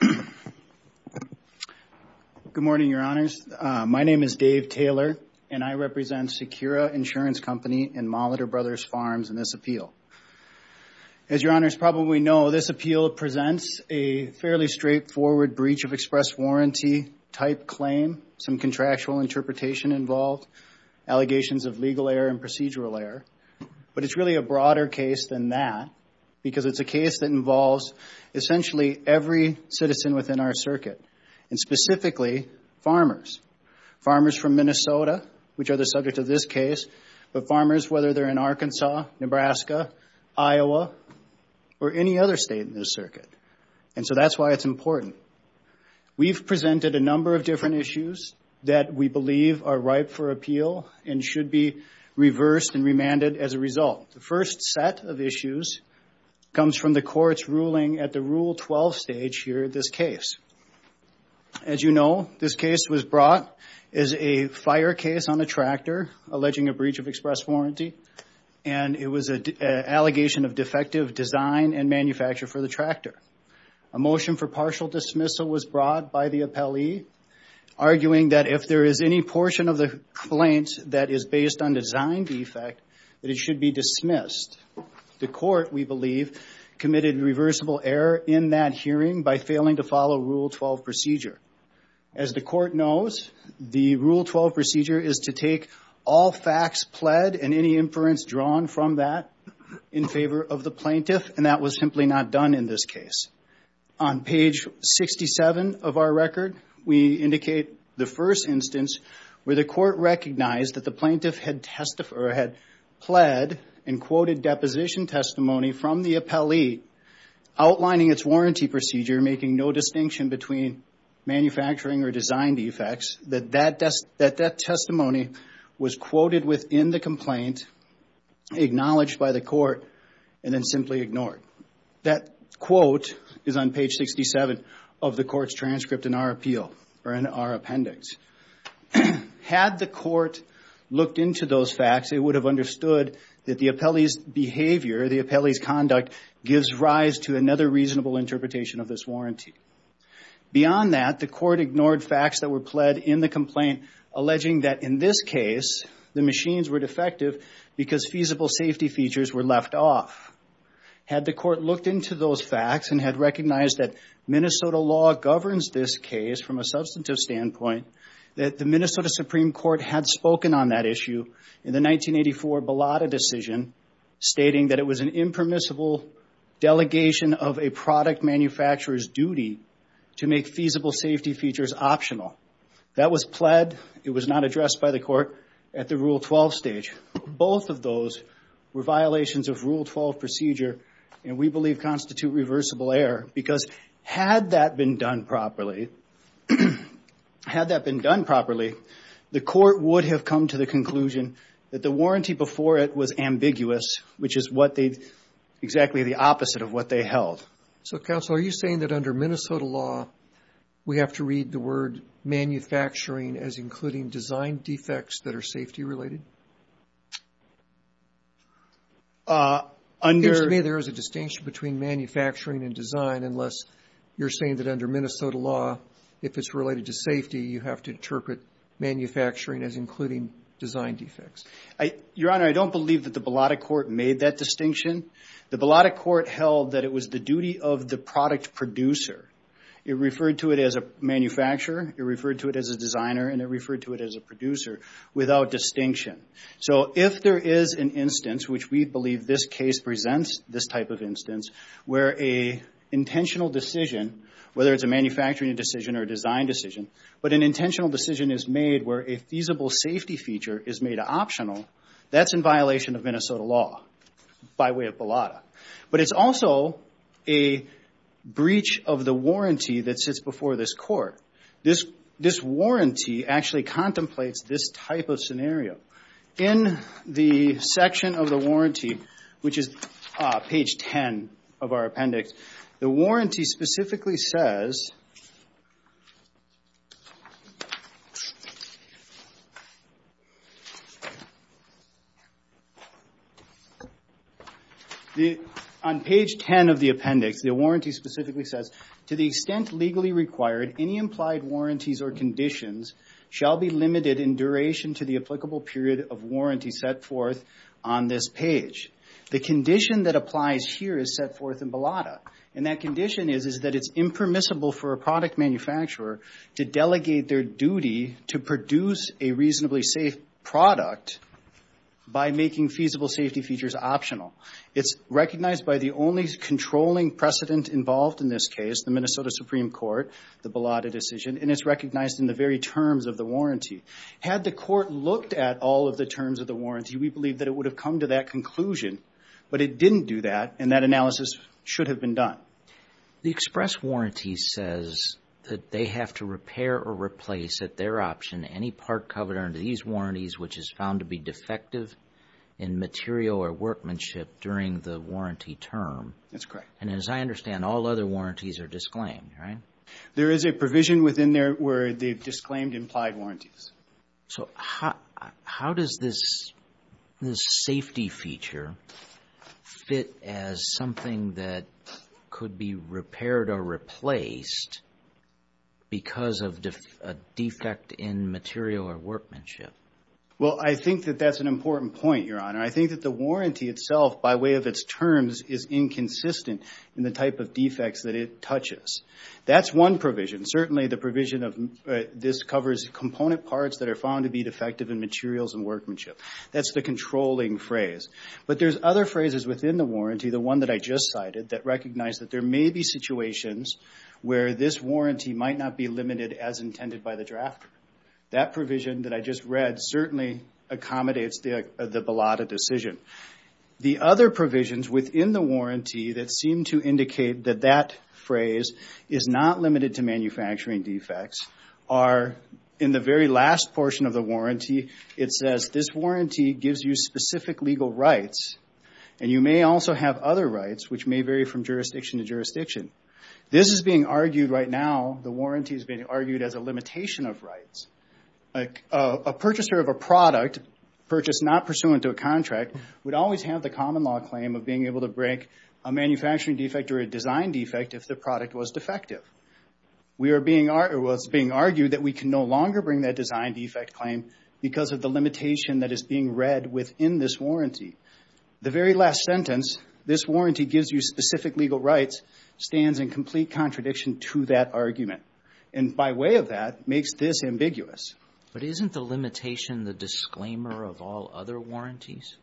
Good morning, Your Honors. My name is Dave Taylor, and I represent Secura Insurance Company and Molitor Brothers Farms in this appeal. As Your Honors probably know, this appeal presents a fairly straightforward breach of express warranty type claim, some contractual But it's really a broader case than that, because it's a case that involves essentially every citizen within our circuit, and specifically farmers. Farmers from Minnesota, which are the subject of this case, but farmers whether they're in Arkansas, Nebraska, Iowa, or any other state in this circuit. And so that's why it's important. We've presented a number of different issues that we believe are ripe for appeal and should be reversed and remanded as a result. The first set of issues comes from the court's ruling at the Rule 12 stage here at this case. As you know, this case was brought as a fire case on a tractor alleging a breach of express warranty, and it was an allegation of defective design and manufacture for the tractor. A motion for partial dismissal was brought by the appellee, arguing that if there is any portion of the plaint that is based on design defect, that it should be dismissed. The court, we believe, committed reversible error in that hearing by failing to follow Rule 12 procedure. As the court knows, the Rule 12 procedure is to take all facts pled and any inference drawn from that in favor of the plaintiff, and that was simply not done in this case. On page 67 of our record, we indicate the first instance where the court recognized that the plaintiff had pled and quoted deposition testimony from the appellee, outlining its warranty procedure, making no distinction between manufacturing or design defects, that that testimony was quoted within the complaint, acknowledged by the court, and then simply ignored. That quote is on page 67 of the court's transcript in our appeal, or in our appendix. Had the court looked into those facts, it would have understood that the appellee's behavior, the appellee's conduct, gives rise to another reasonable interpretation of this warranty. Beyond that, the court ignored facts that were pled in the complaint, alleging that in this case, the machines were defective because feasible safety features were left off. Had the court looked into those facts and had recognized that Minnesota law governs this case from a substantive standpoint, that the Minnesota Supreme Court had spoken on that issue in the 1984 Belotta decision, stating that it was an impermissible delegation of a product manufacturer's duty to make feasible safety features optional. That was pled. It was not addressed by the court at the Rule 12 stage. Both of those were violations of Rule 12 procedure, and we believe constitute reversible error, because had that been done properly, the court would have come to the conclusion that the warranty before it was ambiguous, which is exactly the opposite of what they held. So, counsel, are you saying that under Minnesota law, we have to read the word manufacturing as including design defects that are safety-related? It seems to me there is a distinction between manufacturing and design, unless you're saying that under Minnesota law, if it's related to safety, you have to interpret manufacturing as including design defects. Your Honor, I don't believe that the Belotta court made that distinction. The Belotta court held that it was the duty of the product producer. It referred to it as a manufacturer. It referred to it as a designer, and it referred to it as a producer, without distinction. So if there is an instance, which we believe this case presents this type of instance, where an intentional decision, whether it's a manufacturing decision or a design decision, but an intentional decision is made where a feasible safety feature is made optional, that's in violation of Minnesota law by way of Belotta. But it's also a breach of the warranty that sits before this court. This warranty actually contemplates this type of scenario. In the section of the warranty, which is page 10 of our appendix, the warranty specifically says, on page 10 of the appendix, the warranty specifically says, to the extent legally required, any implied warranties or conditions shall be limited in duration to the applicable period of warranty set forth on this page. The condition that applies here is set forth in Belotta, and that condition is that it's impermissible for a product manufacturer to delegate their duty to produce a reasonably safe product by making feasible safety features optional. It's recognized by the only controlling precedent involved in this case, the Minnesota Supreme Court, the Belotta decision, and it's recognized in the very terms of the warranty. Had the court looked at all of the terms of the warranty, we believe that it would have come to that conclusion, but it didn't do that, and that analysis should have been done. The express warranty says that they have to repair or replace, at their option, any part covered under these warranties which is found to be defective in material or workmanship during the warranty term. That's correct. And as I understand, all other warranties are disclaimed, right? There is a provision within there where they've disclaimed implied warranties. So how does this safety feature fit as something that could be repaired or replaced because of a defect in material or workmanship? Well, I think that that's an important point, Your Honor. I think that the warranty itself, by way of its terms, is inconsistent in the type of defects that it touches. That's one provision. Certainly the provision of this covers component parts that are found to be defective in materials and workmanship. That's the controlling phrase. But there's other phrases within the warranty, the one that I just cited, that recognize that there may be situations where this warranty might not be limited as intended by the drafter. That provision that I just read certainly accommodates the Belotta decision. The other provisions within the warranty that seem to indicate that that phrase is not limited to manufacturing defects are, in the very last portion of the warranty, it says this warranty gives you specific legal rights, and you may also have other rights which may vary from jurisdiction to jurisdiction. This is being argued right now, the warranty is being argued as a limitation of rights. A purchaser of a product, purchase not pursuant to a contract, would always have the common law claim of being able to break a manufacturing defect or a design defect if the product was being argued that we can no longer bring that design defect claim because of the limitation that is being read within this warranty. The very last sentence, this warranty gives you specific legal rights, stands in complete contradiction to that argument. And by way of that, makes this ambiguous. But isn't the limitation the disclaimer of all other warranties?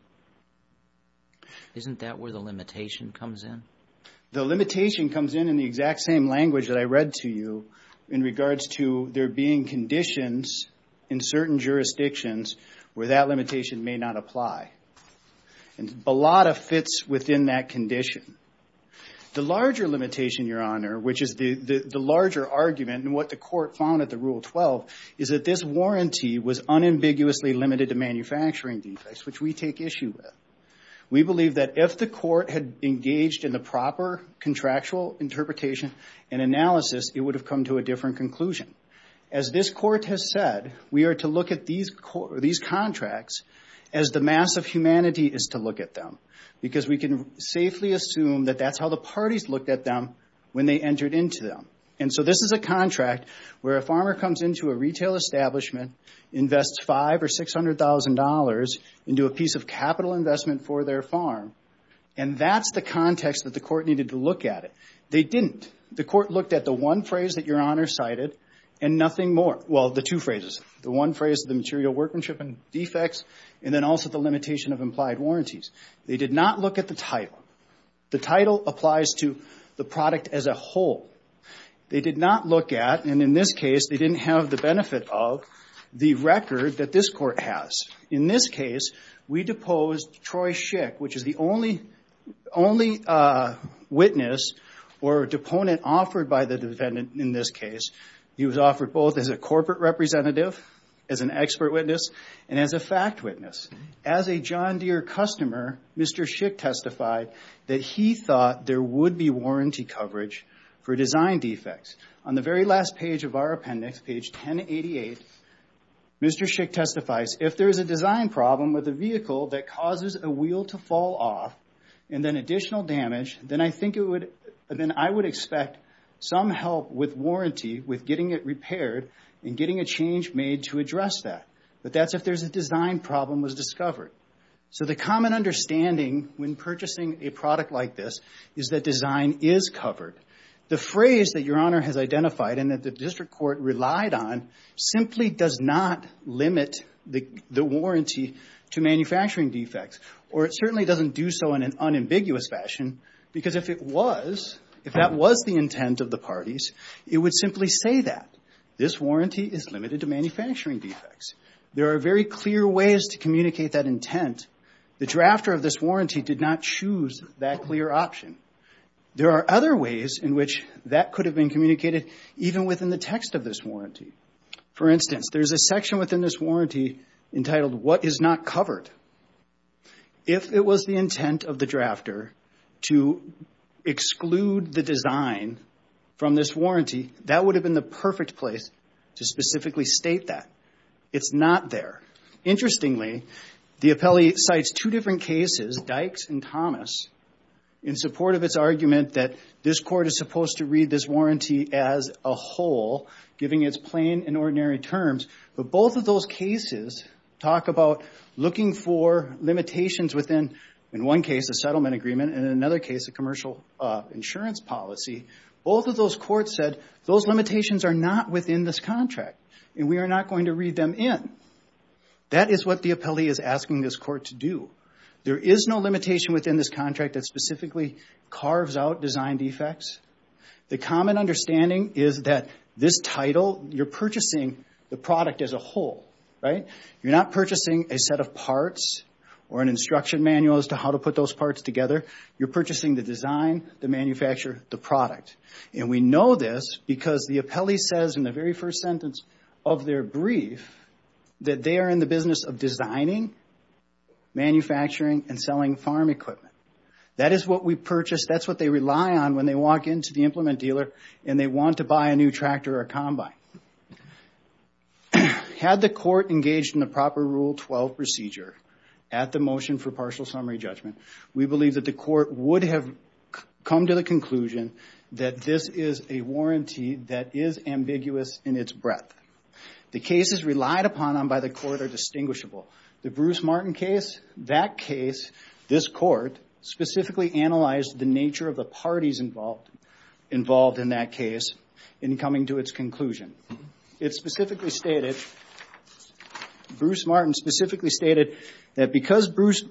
Isn't that where the limitation comes in? The limitation comes in in the exact same language that I read to you in regards to there being conditions in certain jurisdictions where that limitation may not apply. And Belotta fits within that condition. The larger limitation, Your Honor, which is the larger argument and what the Court found at the Rule 12, is that this warranty was unambiguously limited to manufacturing defects, which we take issue with. We believe that if the Court had engaged in the proper contractual interpretation and analysis, it would have come to a different conclusion. As this Court has said, we are to look at these contracts as the mass of humanity is to look at them. Because we can safely assume that that's how the parties looked at them when they entered into them. And so this is a contract where a farmer comes into a retail establishment, invests five or $600,000 into a piece of capital investment for their farm. And that's the context that the Court needed to look at it. They didn't. The Court looked at the one phrase that Your Honor cited and nothing more. Well, the two phrases. The one phrase, the material workmanship and defects, and then also the limitation of implied warranties. They did not look at the title. The title applies to the product as a whole. They did not look at, and in this case, they didn't have the benefit of, the record that this Court has. In this case, we deposed Troy Schick, which is the only witness or deponent offered by the defendant in this case. He was offered both as a corporate representative, as an expert witness, and as a fact witness. As a John Deere customer, Mr. Schick testified that he thought there would be warranty coverage for design defects. On the very last page of our appendix, page 1088, Mr. Schick testifies, if there's a design problem with a vehicle that causes a wheel to fall off and then additional damage, then I think it would, then I would expect some help with warranty with getting it repaired and getting a change made to address that. But that's if there's a design problem was discovered. So the common understanding when purchasing a product like this is that design is covered. The phrase that Your Honor has identified and that the district court relied on simply does not limit the warranty to manufacturing defects, or it certainly doesn't do so in an unambiguous fashion, because if it was, if that was the intent of the parties, it would simply say that. This warranty is limited to manufacturing defects. There are very clear ways to communicate that intent. The drafter of this warranty did not choose that clear option. There are other ways in which that could have been communicated even within the text of this warranty. For instance, there's a section within this warranty entitled, what is not covered. If it was the intent of the drafter to exclude the design from this warranty, that would have been the perfect place to specifically state that. It's not there. Interestingly, the appellee cites two different cases, Dykes and Thomas, in support of its argument that this court is supposed to read this warranty as a whole, giving its plain and ordinary terms. But both of those cases talk about looking for limitations within, in one case, a settlement agreement, and in another case, a commercial insurance policy. Both of those courts said, those limitations are not within this contract, and we are not going to read them in. That is what the appellee is asking this court to do. There is no limitation within this contract that specifically carves out design defects. The common understanding is that this title, you're purchasing the product as a whole. You're not purchasing a set of parts or an instruction manual as to how to put those parts together. You're purchasing the design, the manufacturer, the product. We know this because the appellee says in the very first sentence of their brief that they are in the business of designing, manufacturing, and selling farm equipment. That is what we purchase. That's what they rely on when they walk into the implement dealer and they want to buy a new tractor or combine. Had the court engaged in the proper Rule 12 procedure at the motion for partial summary judgment, we believe that the court would have come to the conclusion that this is a warranty that is ambiguous in its breadth. The cases relied upon by the court are distinguishable. The Bruce Martin case, that case, this court specifically analyzed the nature of the parties involved in that case in coming to its conclusion. It specifically stated, Bruce Martin specifically stated that because Bruce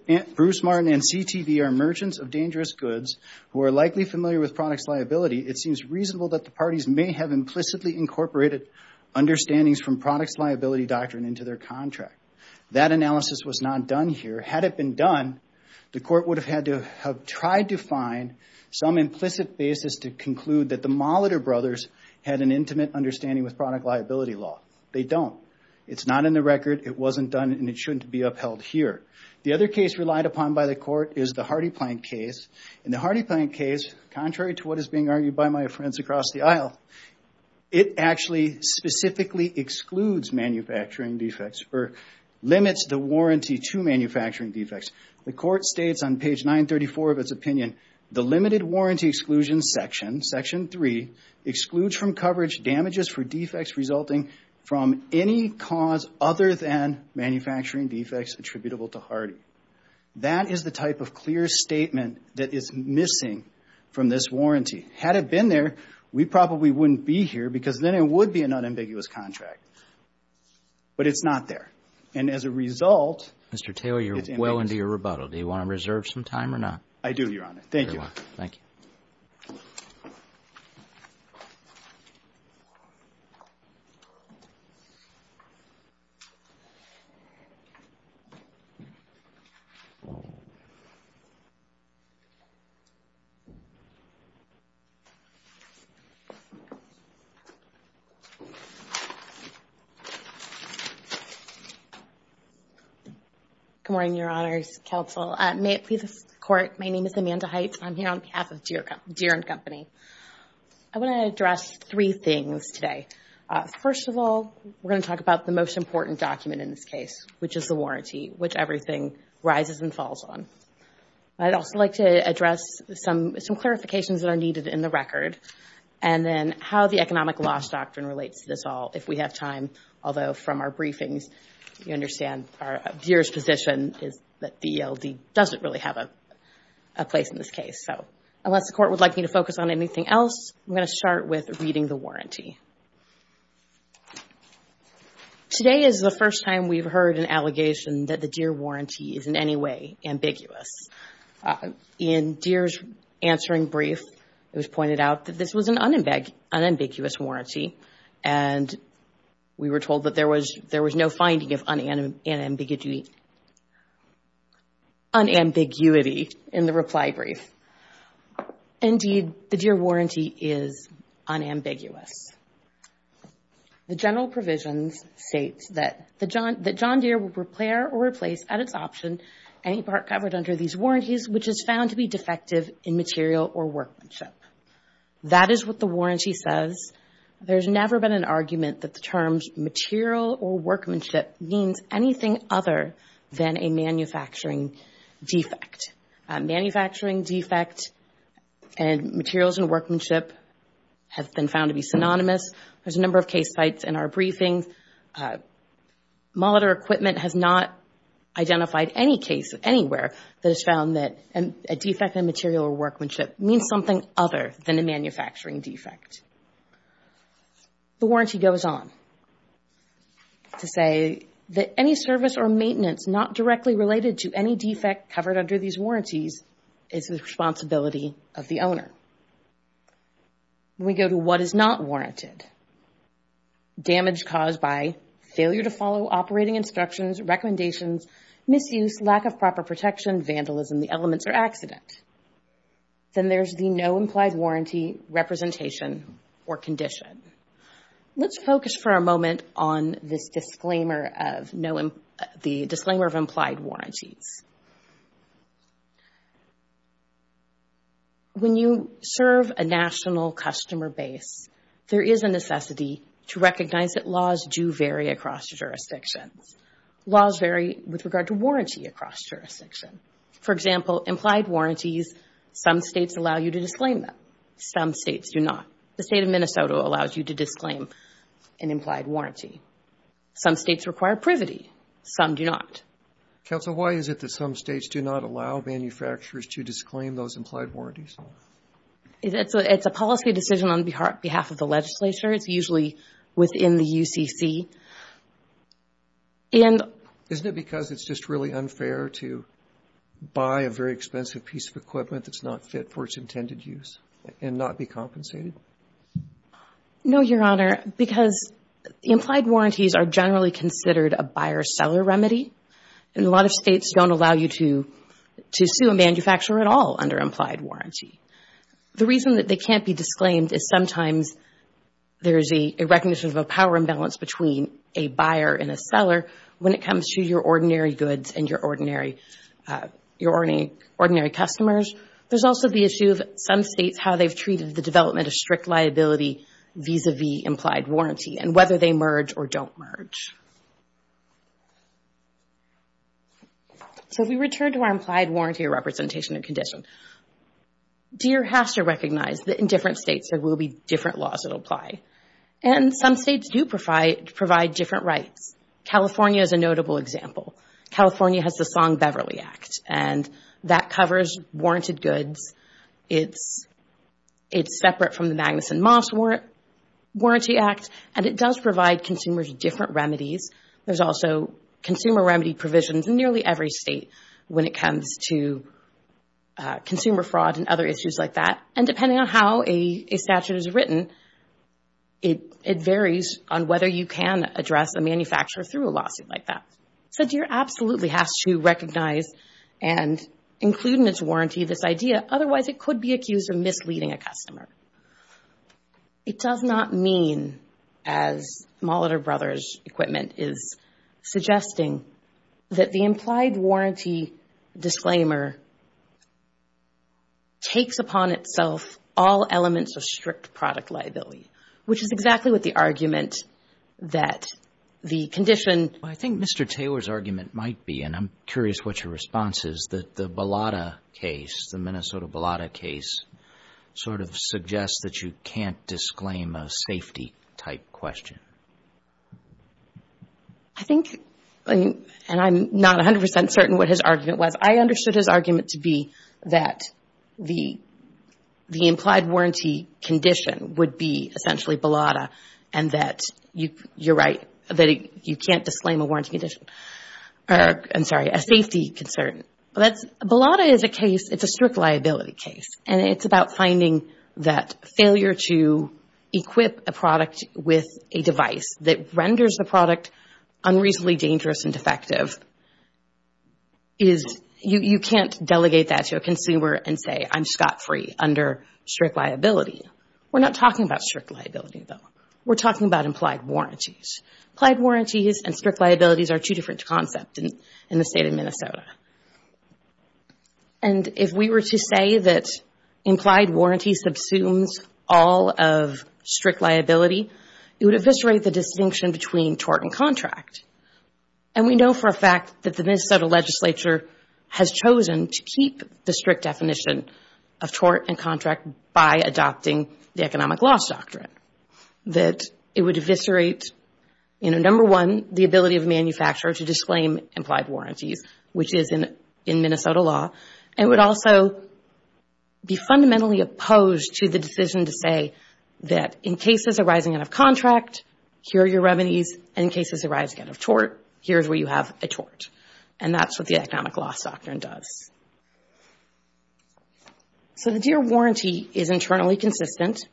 Martin and CTV are merchants of dangerous goods who are likely familiar with products liability, it seems reasonable that the parties may have implicitly incorporated understandings from products liability doctrine into their contract. That analysis was not done here. Had it been done, the court would have had to have tried to find some implicit basis to conclude that the Molitor brothers had an intimate understanding with product liability law. They don't. It's not in the record. It wasn't done and it shouldn't be upheld here. The other case relied upon by the court is the Hardy-Planck case. The Hardy-Planck case, contrary to what is being argued by my friends across the aisle, it actually specifically excludes manufacturing defects or limits the warranty to manufacturing defects. The court states on page 934 of its opinion, the limited warranty exclusion section, section three, excludes from coverage damages for defects resulting from any cause other than manufacturing defects attributable to Hardy. That is the type of clear statement that is missing from this warranty. Had it been there, we probably wouldn't be here because then it would be an unambiguous contract. And as a result, it's ambiguous. Thank you for your rebuttal. Do you want to reserve some time or not? I do, Your Honor. Thank you. Thank you. Good morning, Your Honors, Counsel. May it please the Court, my name is Amanda Heights. I'm here on behalf of Deere and Company. I want to address three things today. First of all, we're going to talk about the most important document in this case, which is the warranty, which everything rises and falls on. I'd also like to address some clarifications that are needed in the record and then how the economic loss doctrine relates to this all if we have time. Although, from our briefings, you understand Deere's position is that the ELD doesn't really have a place in this case. Unless the Court would like me to focus on anything else, I'm going to start with reading the warranty. Today is the first time we've heard an allegation that the Deere warranty is in any way ambiguous. In Deere's answering brief, it was pointed out that this was an unambiguous warranty and we were told that there was no finding of unambiguity in the reply brief. Indeed, the Deere warranty is unambiguous. The general provisions state that John Deere will repair or replace at its option any part covered under these warranties which is found to be defective in material or workmanship. That is what the warranty says. There's never been an argument that the terms material or workmanship means anything other than a manufacturing defect. Manufacturing defect and materials and workmanship have been found to be synonymous. There's a number of case sites in our briefings. Molitor equipment has not identified any case anywhere that has found that a defect in material or workmanship means something other than a manufacturing defect. The warranty goes on to say that any service or maintenance not directly related to any defect covered under these warranties is the responsibility of the owner. We go to what is not warranted. Damage caused by failure to follow operating instructions, recommendations, misuse, lack of proper protection, vandalism, the elements or accident. Then there's the no implied warranty representation or condition. Let's focus for a moment on the disclaimer of implied warranties. When you serve a national customer base, there is a necessity to recognize that laws do vary across jurisdictions. Laws vary with regard to warranty across jurisdictions. For example, implied warranties, some states allow you to disclaim them. Some states do not. The state of Minnesota allows you to disclaim an implied warranty. Some states require privity. Some do not. Counsel, why is it that some states do not allow manufacturers to disclaim those implied warranties? It's a policy decision on behalf of the legislature. It's usually within the UCC. And isn't it because it's just really unfair to buy a very expensive piece of equipment that's not fit for its intended use and not be compensated? No, Your Honor, because the implied warranties are generally considered a buyer-seller remedy, and a lot of states don't allow you to sue a manufacturer at all under implied warranty. The reason that they can't be disclaimed is sometimes there is a recognition of a power imbalance between a buyer and a seller when it comes to your ordinary goods and your ordinary customers. There's also the issue of some states, how they've treated the development of strict liability vis-a-vis implied warranty and whether they merge or don't merge. So we return to our implied warranty representation and condition. DEER has to recognize that in different states there will be different laws that apply. And some states do provide different rights. California is a notable example. California has the Song-Beverly Act, and that covers warranted goods. It's separate from the Magnuson-Moss Warranty Act, and it does provide consumers different remedies. There's also consumer remedy provisions in nearly every state when it comes to consumer fraud and other issues like that. And depending on how a statute is written, it varies on whether you can address a manufacturer through a lawsuit like that. So DEER absolutely has to recognize and include in its warranty this idea. Otherwise, it could be accused of misleading a customer. It does not mean, as Molitor Brothers Equipment is suggesting, that the implied warranty disclaimer takes upon itself all elements of strict product liability, which is exactly what the argument that the condition... I think Mr. Taylor's argument might be, and I'm curious what your response is, is that the Bellota case, the Minnesota Bellota case, sort of suggests that you can't disclaim a safety-type question. I think, and I'm not 100% certain what his argument was, I understood his argument to be that the implied warranty condition would be essentially Bellota and that you're right, that you can't disclaim a safety concern. Bellota is a case, it's a strict liability case, and it's about finding that failure to equip a product with a device that renders the product unreasonably dangerous and defective. You can't delegate that to a consumer and say, I'm scot-free under strict liability. We're not talking about strict liability, though. We're talking about implied warranties. Implied warranties and strict liabilities are two different concepts in the state of Minnesota. And if we were to say that implied warranty subsumes all of strict liability, it would eviscerate the distinction between tort and contract. And we know for a fact that the Minnesota legislature has chosen to keep the strict definition of tort and contract by adopting the economic loss doctrine. That it would eviscerate, number one, the ability of a manufacturer to disclaim implied warranties, which is in Minnesota law, and it would also be fundamentally opposed to the decision to say that in cases arising out of contract, here are your revenues, and in cases arising out of tort, here is where you have a tort. And that's what the economic loss doctrine does. So the DEER warranty is internally consistent.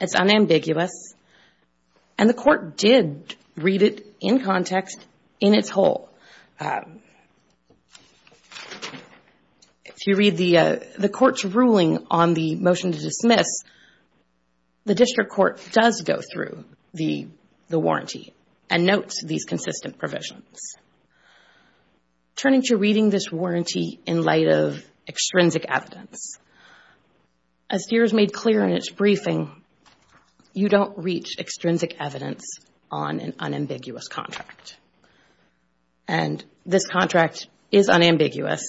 It's unambiguous. And the court did read it in context in its whole. If you read the court's ruling on the motion to dismiss, the district court does go through the warranty and notes these consistent provisions. Turning to reading this warranty in light of extrinsic evidence, as DEER has made clear in its briefing, you don't reach extrinsic evidence on an unambiguous contract. And this contract is unambiguous.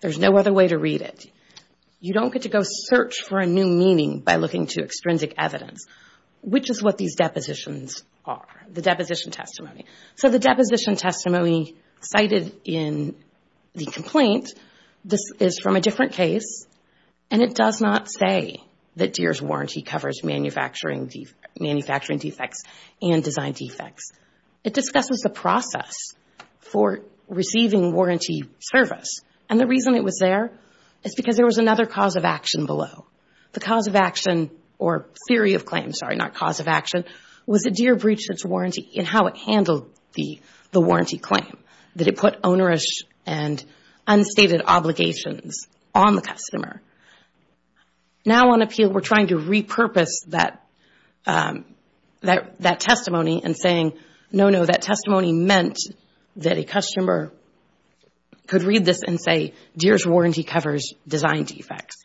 There's no other way to read it. You don't get to go search for a new meaning by looking to extrinsic evidence, which is what these depositions are, the deposition testimony. So the deposition testimony cited in the complaint, this is from a different case, and it does not say that DEER's warranty covers manufacturing defects and design defects. It discusses the process for receiving warranty service. And the reason it was there is because there was another cause of action below. The cause of action, or theory of claim, sorry, not cause of action, was that DEER breached its warranty in how it handled the warranty claim, that it put onerous and unstated obligations on the customer. Now, on appeal, we're trying to repurpose that testimony and saying, no, no, that testimony meant that a customer could read this and say DEER's warranty covers design defects.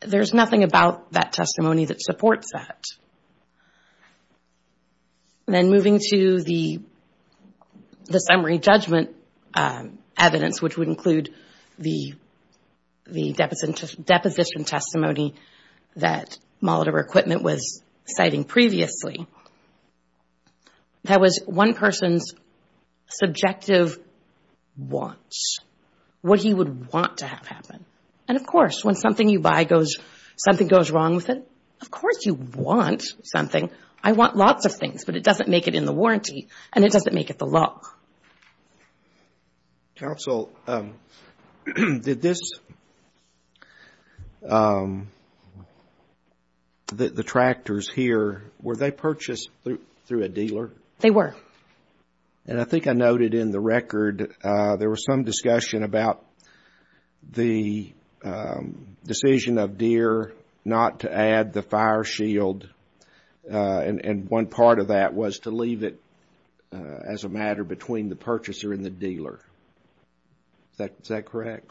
There's nothing about that testimony that supports that. Then moving to the summary judgment evidence, which would include the deposition testimony that Moldover Equipment was citing previously, that was one person's subjective wants, what he would want to have happen. And, of course, when something you buy goes, something goes wrong with it, of course you want something. I want lots of things, but it doesn't make it in the warranty, and it doesn't make it the law. Counsel, did this, the tractors here, were they purchased through a dealer? They were. And I think I noted in the record there was some discussion about the decision of DEER not to add the fire shield, and one part of that was to leave it as a matter between the purchaser and the dealer. Is that correct?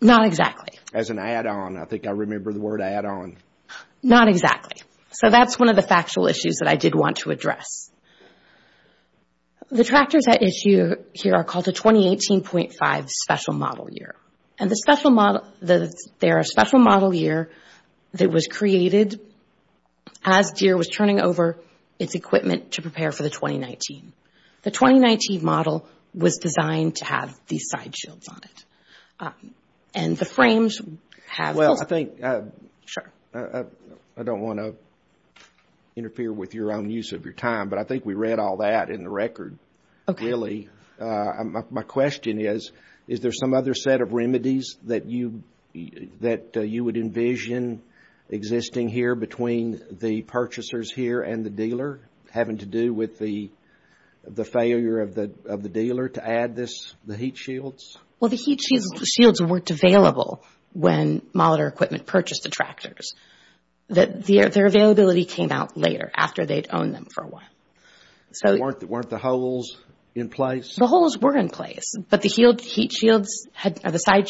Not exactly. As an add-on. I think I remember the word add-on. Not exactly. Okay, so that's one of the factual issues that I did want to address. The tractors at issue here are called the 2018.5 special model year, and they're a special model year that was created as DEER was turning over its equipment to prepare for the 2019. The 2019 model was designed to have these side shields on it, and the frames have those. I think I don't want to interfere with your own use of your time, but I think we read all that in the record, really. My question is, is there some other set of remedies that you would envision existing here between the purchasers here and the dealer having to do with the failure of the dealer to add the heat shields? Well, the heat shields weren't available when Molitor Equipment purchased the tractors. Their availability came out later after they'd owned them for a while. Weren't the holes in place? The holes were in place, but the side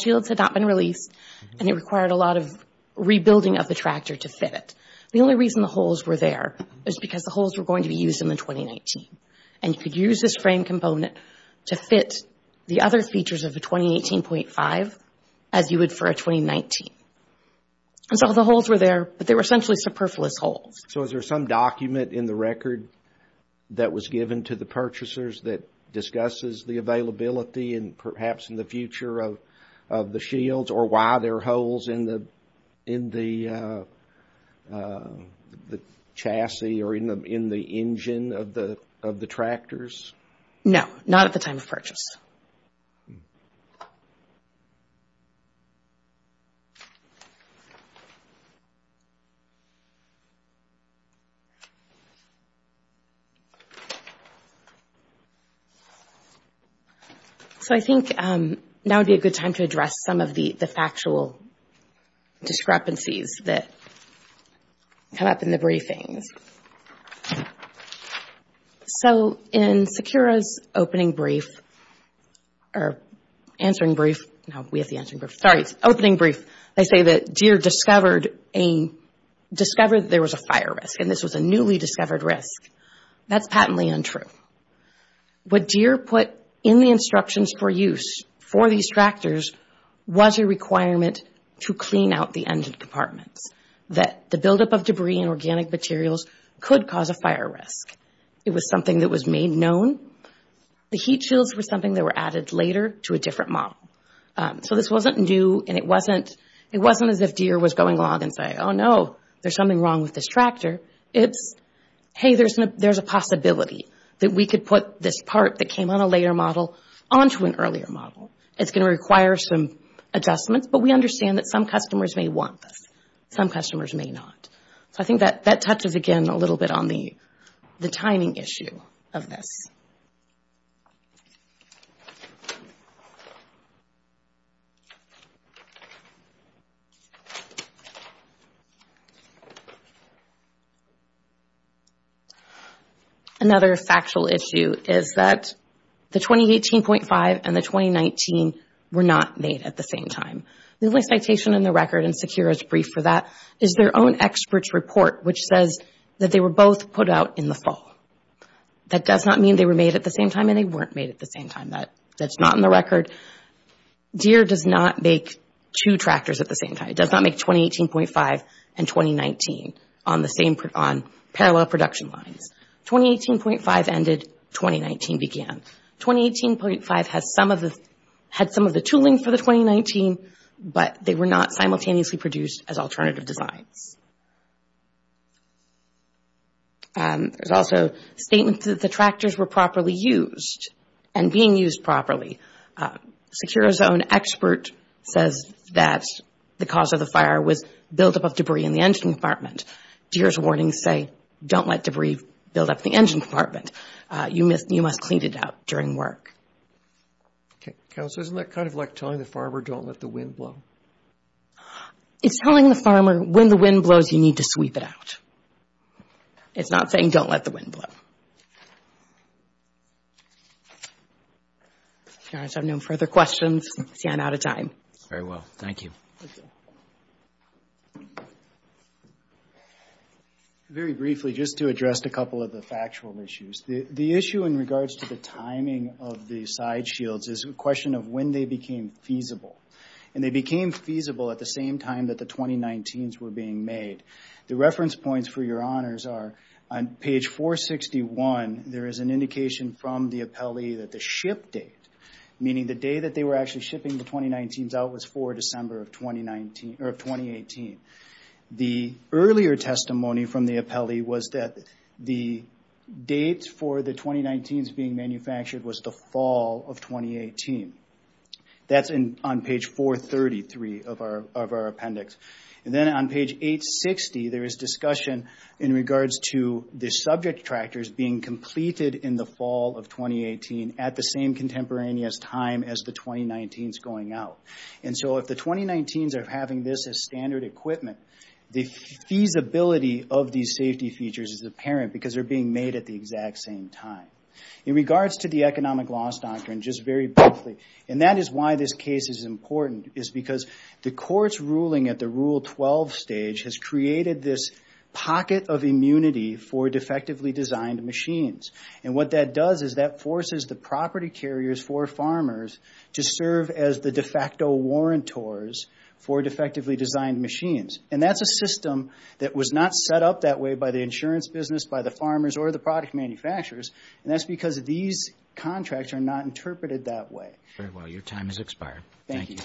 shields had not been released, and it required a lot of rebuilding of the tractor to fit it. The only reason the holes were there is because the holes were going to be used in the 2019, and you could use this frame component to fit the other features of the 2018.5 as you would for a 2019. So, the holes were there, but they were essentially superfluous holes. So, is there some document in the record that was given to the purchasers that discusses the availability and perhaps in the future of the shields or why there are holes in the chassis or in the engine of the tractors? No, not at the time of purchase. So, I think now would be a good time to address some of the factual discrepancies that come up in the briefings. So, in Secura's opening brief, or answering brief, no, we have the answering brief, sorry, opening brief, they say that Deere discovered there was a fire risk, and this was a newly discovered risk. That's patently untrue. What Deere put in the instructions for use for these tractors was a requirement to clean out the engine compartments, that the buildup of debris and organic materials could cause a fire risk. It was something that was made known. The heat shields were something that were added later to a different model. So, this wasn't new, and it wasn't as if Deere was going along and saying, oh, no, there's something wrong with this tractor. It's, hey, there's a possibility that we could put this part that came on a later model onto an earlier model. It's going to require some adjustments, but we understand that some customers may want this. Some customers may not. So, I think that touches again a little bit on the timing issue of this. Another factual issue is that the 2018.5 and the 2019 were not made at the same time. The only citation in the record, and Sakura's brief for that, is their own expert's report, which says that they were both put out in the fall. That does not mean they were made at the same time, and they weren't made at the same time. That's not in the record. Deere does not make two tractors at the same time. It does not make 2018.5 and 2019 on parallel production lines. 2018.5 ended, 2019 began. 2018.5 had some of the tooling for the 2019, but they were not simultaneously produced as alternative designs. There's also statements that the tractors were properly used and being used properly. Sakura's own expert says that the cause of the fire was buildup of debris in the engine compartment. Deere's warnings say, don't let debris build up in the engine compartment. You must clean it out during work. Okay. Counsel, isn't that kind of like telling the farmer, don't let the wind blow? It's telling the farmer, when the wind blows, you need to sweep it out. It's not saying, don't let the wind blow. All right. If there are no further questions, I'm out of time. Very well. Thank you. Very briefly, just to address a couple of the factual issues. The issue in regards to the timing of the side shields is a question of when they became feasible. And they became feasible at the same time that the 2019s were being made. The reference points for your honors are on page 461, there is an indication from the appellee that the ship date, meaning the day that they were actually shipping the 2019s out was 4 December of 2018. The earlier testimony from the appellee was that the date for the 2019s being manufactured was the fall of 2018. That's on page 433 of our appendix. And then on page 860, there is discussion in regards to the subject tractors being completed in the fall of 2018 at the same contemporaneous time as the 2019s going out. And so if the 2019s are having this as standard equipment, the feasibility of these safety features is apparent because they're being made at the exact same time. In regards to the economic loss doctrine, just very briefly, and that is why this case is important, is because the court's ruling at the Rule 12 stage has created this pocket of immunity for defectively designed machines. And what that does is that forces the property carriers for farmers to serve as the de facto warrantors for defectively designed machines. And that's a system that was not set up that way by the insurance business, by the farmers, or the product manufacturers. And that's because these contracts are not interpreted that way. Your time has expired. Thank you.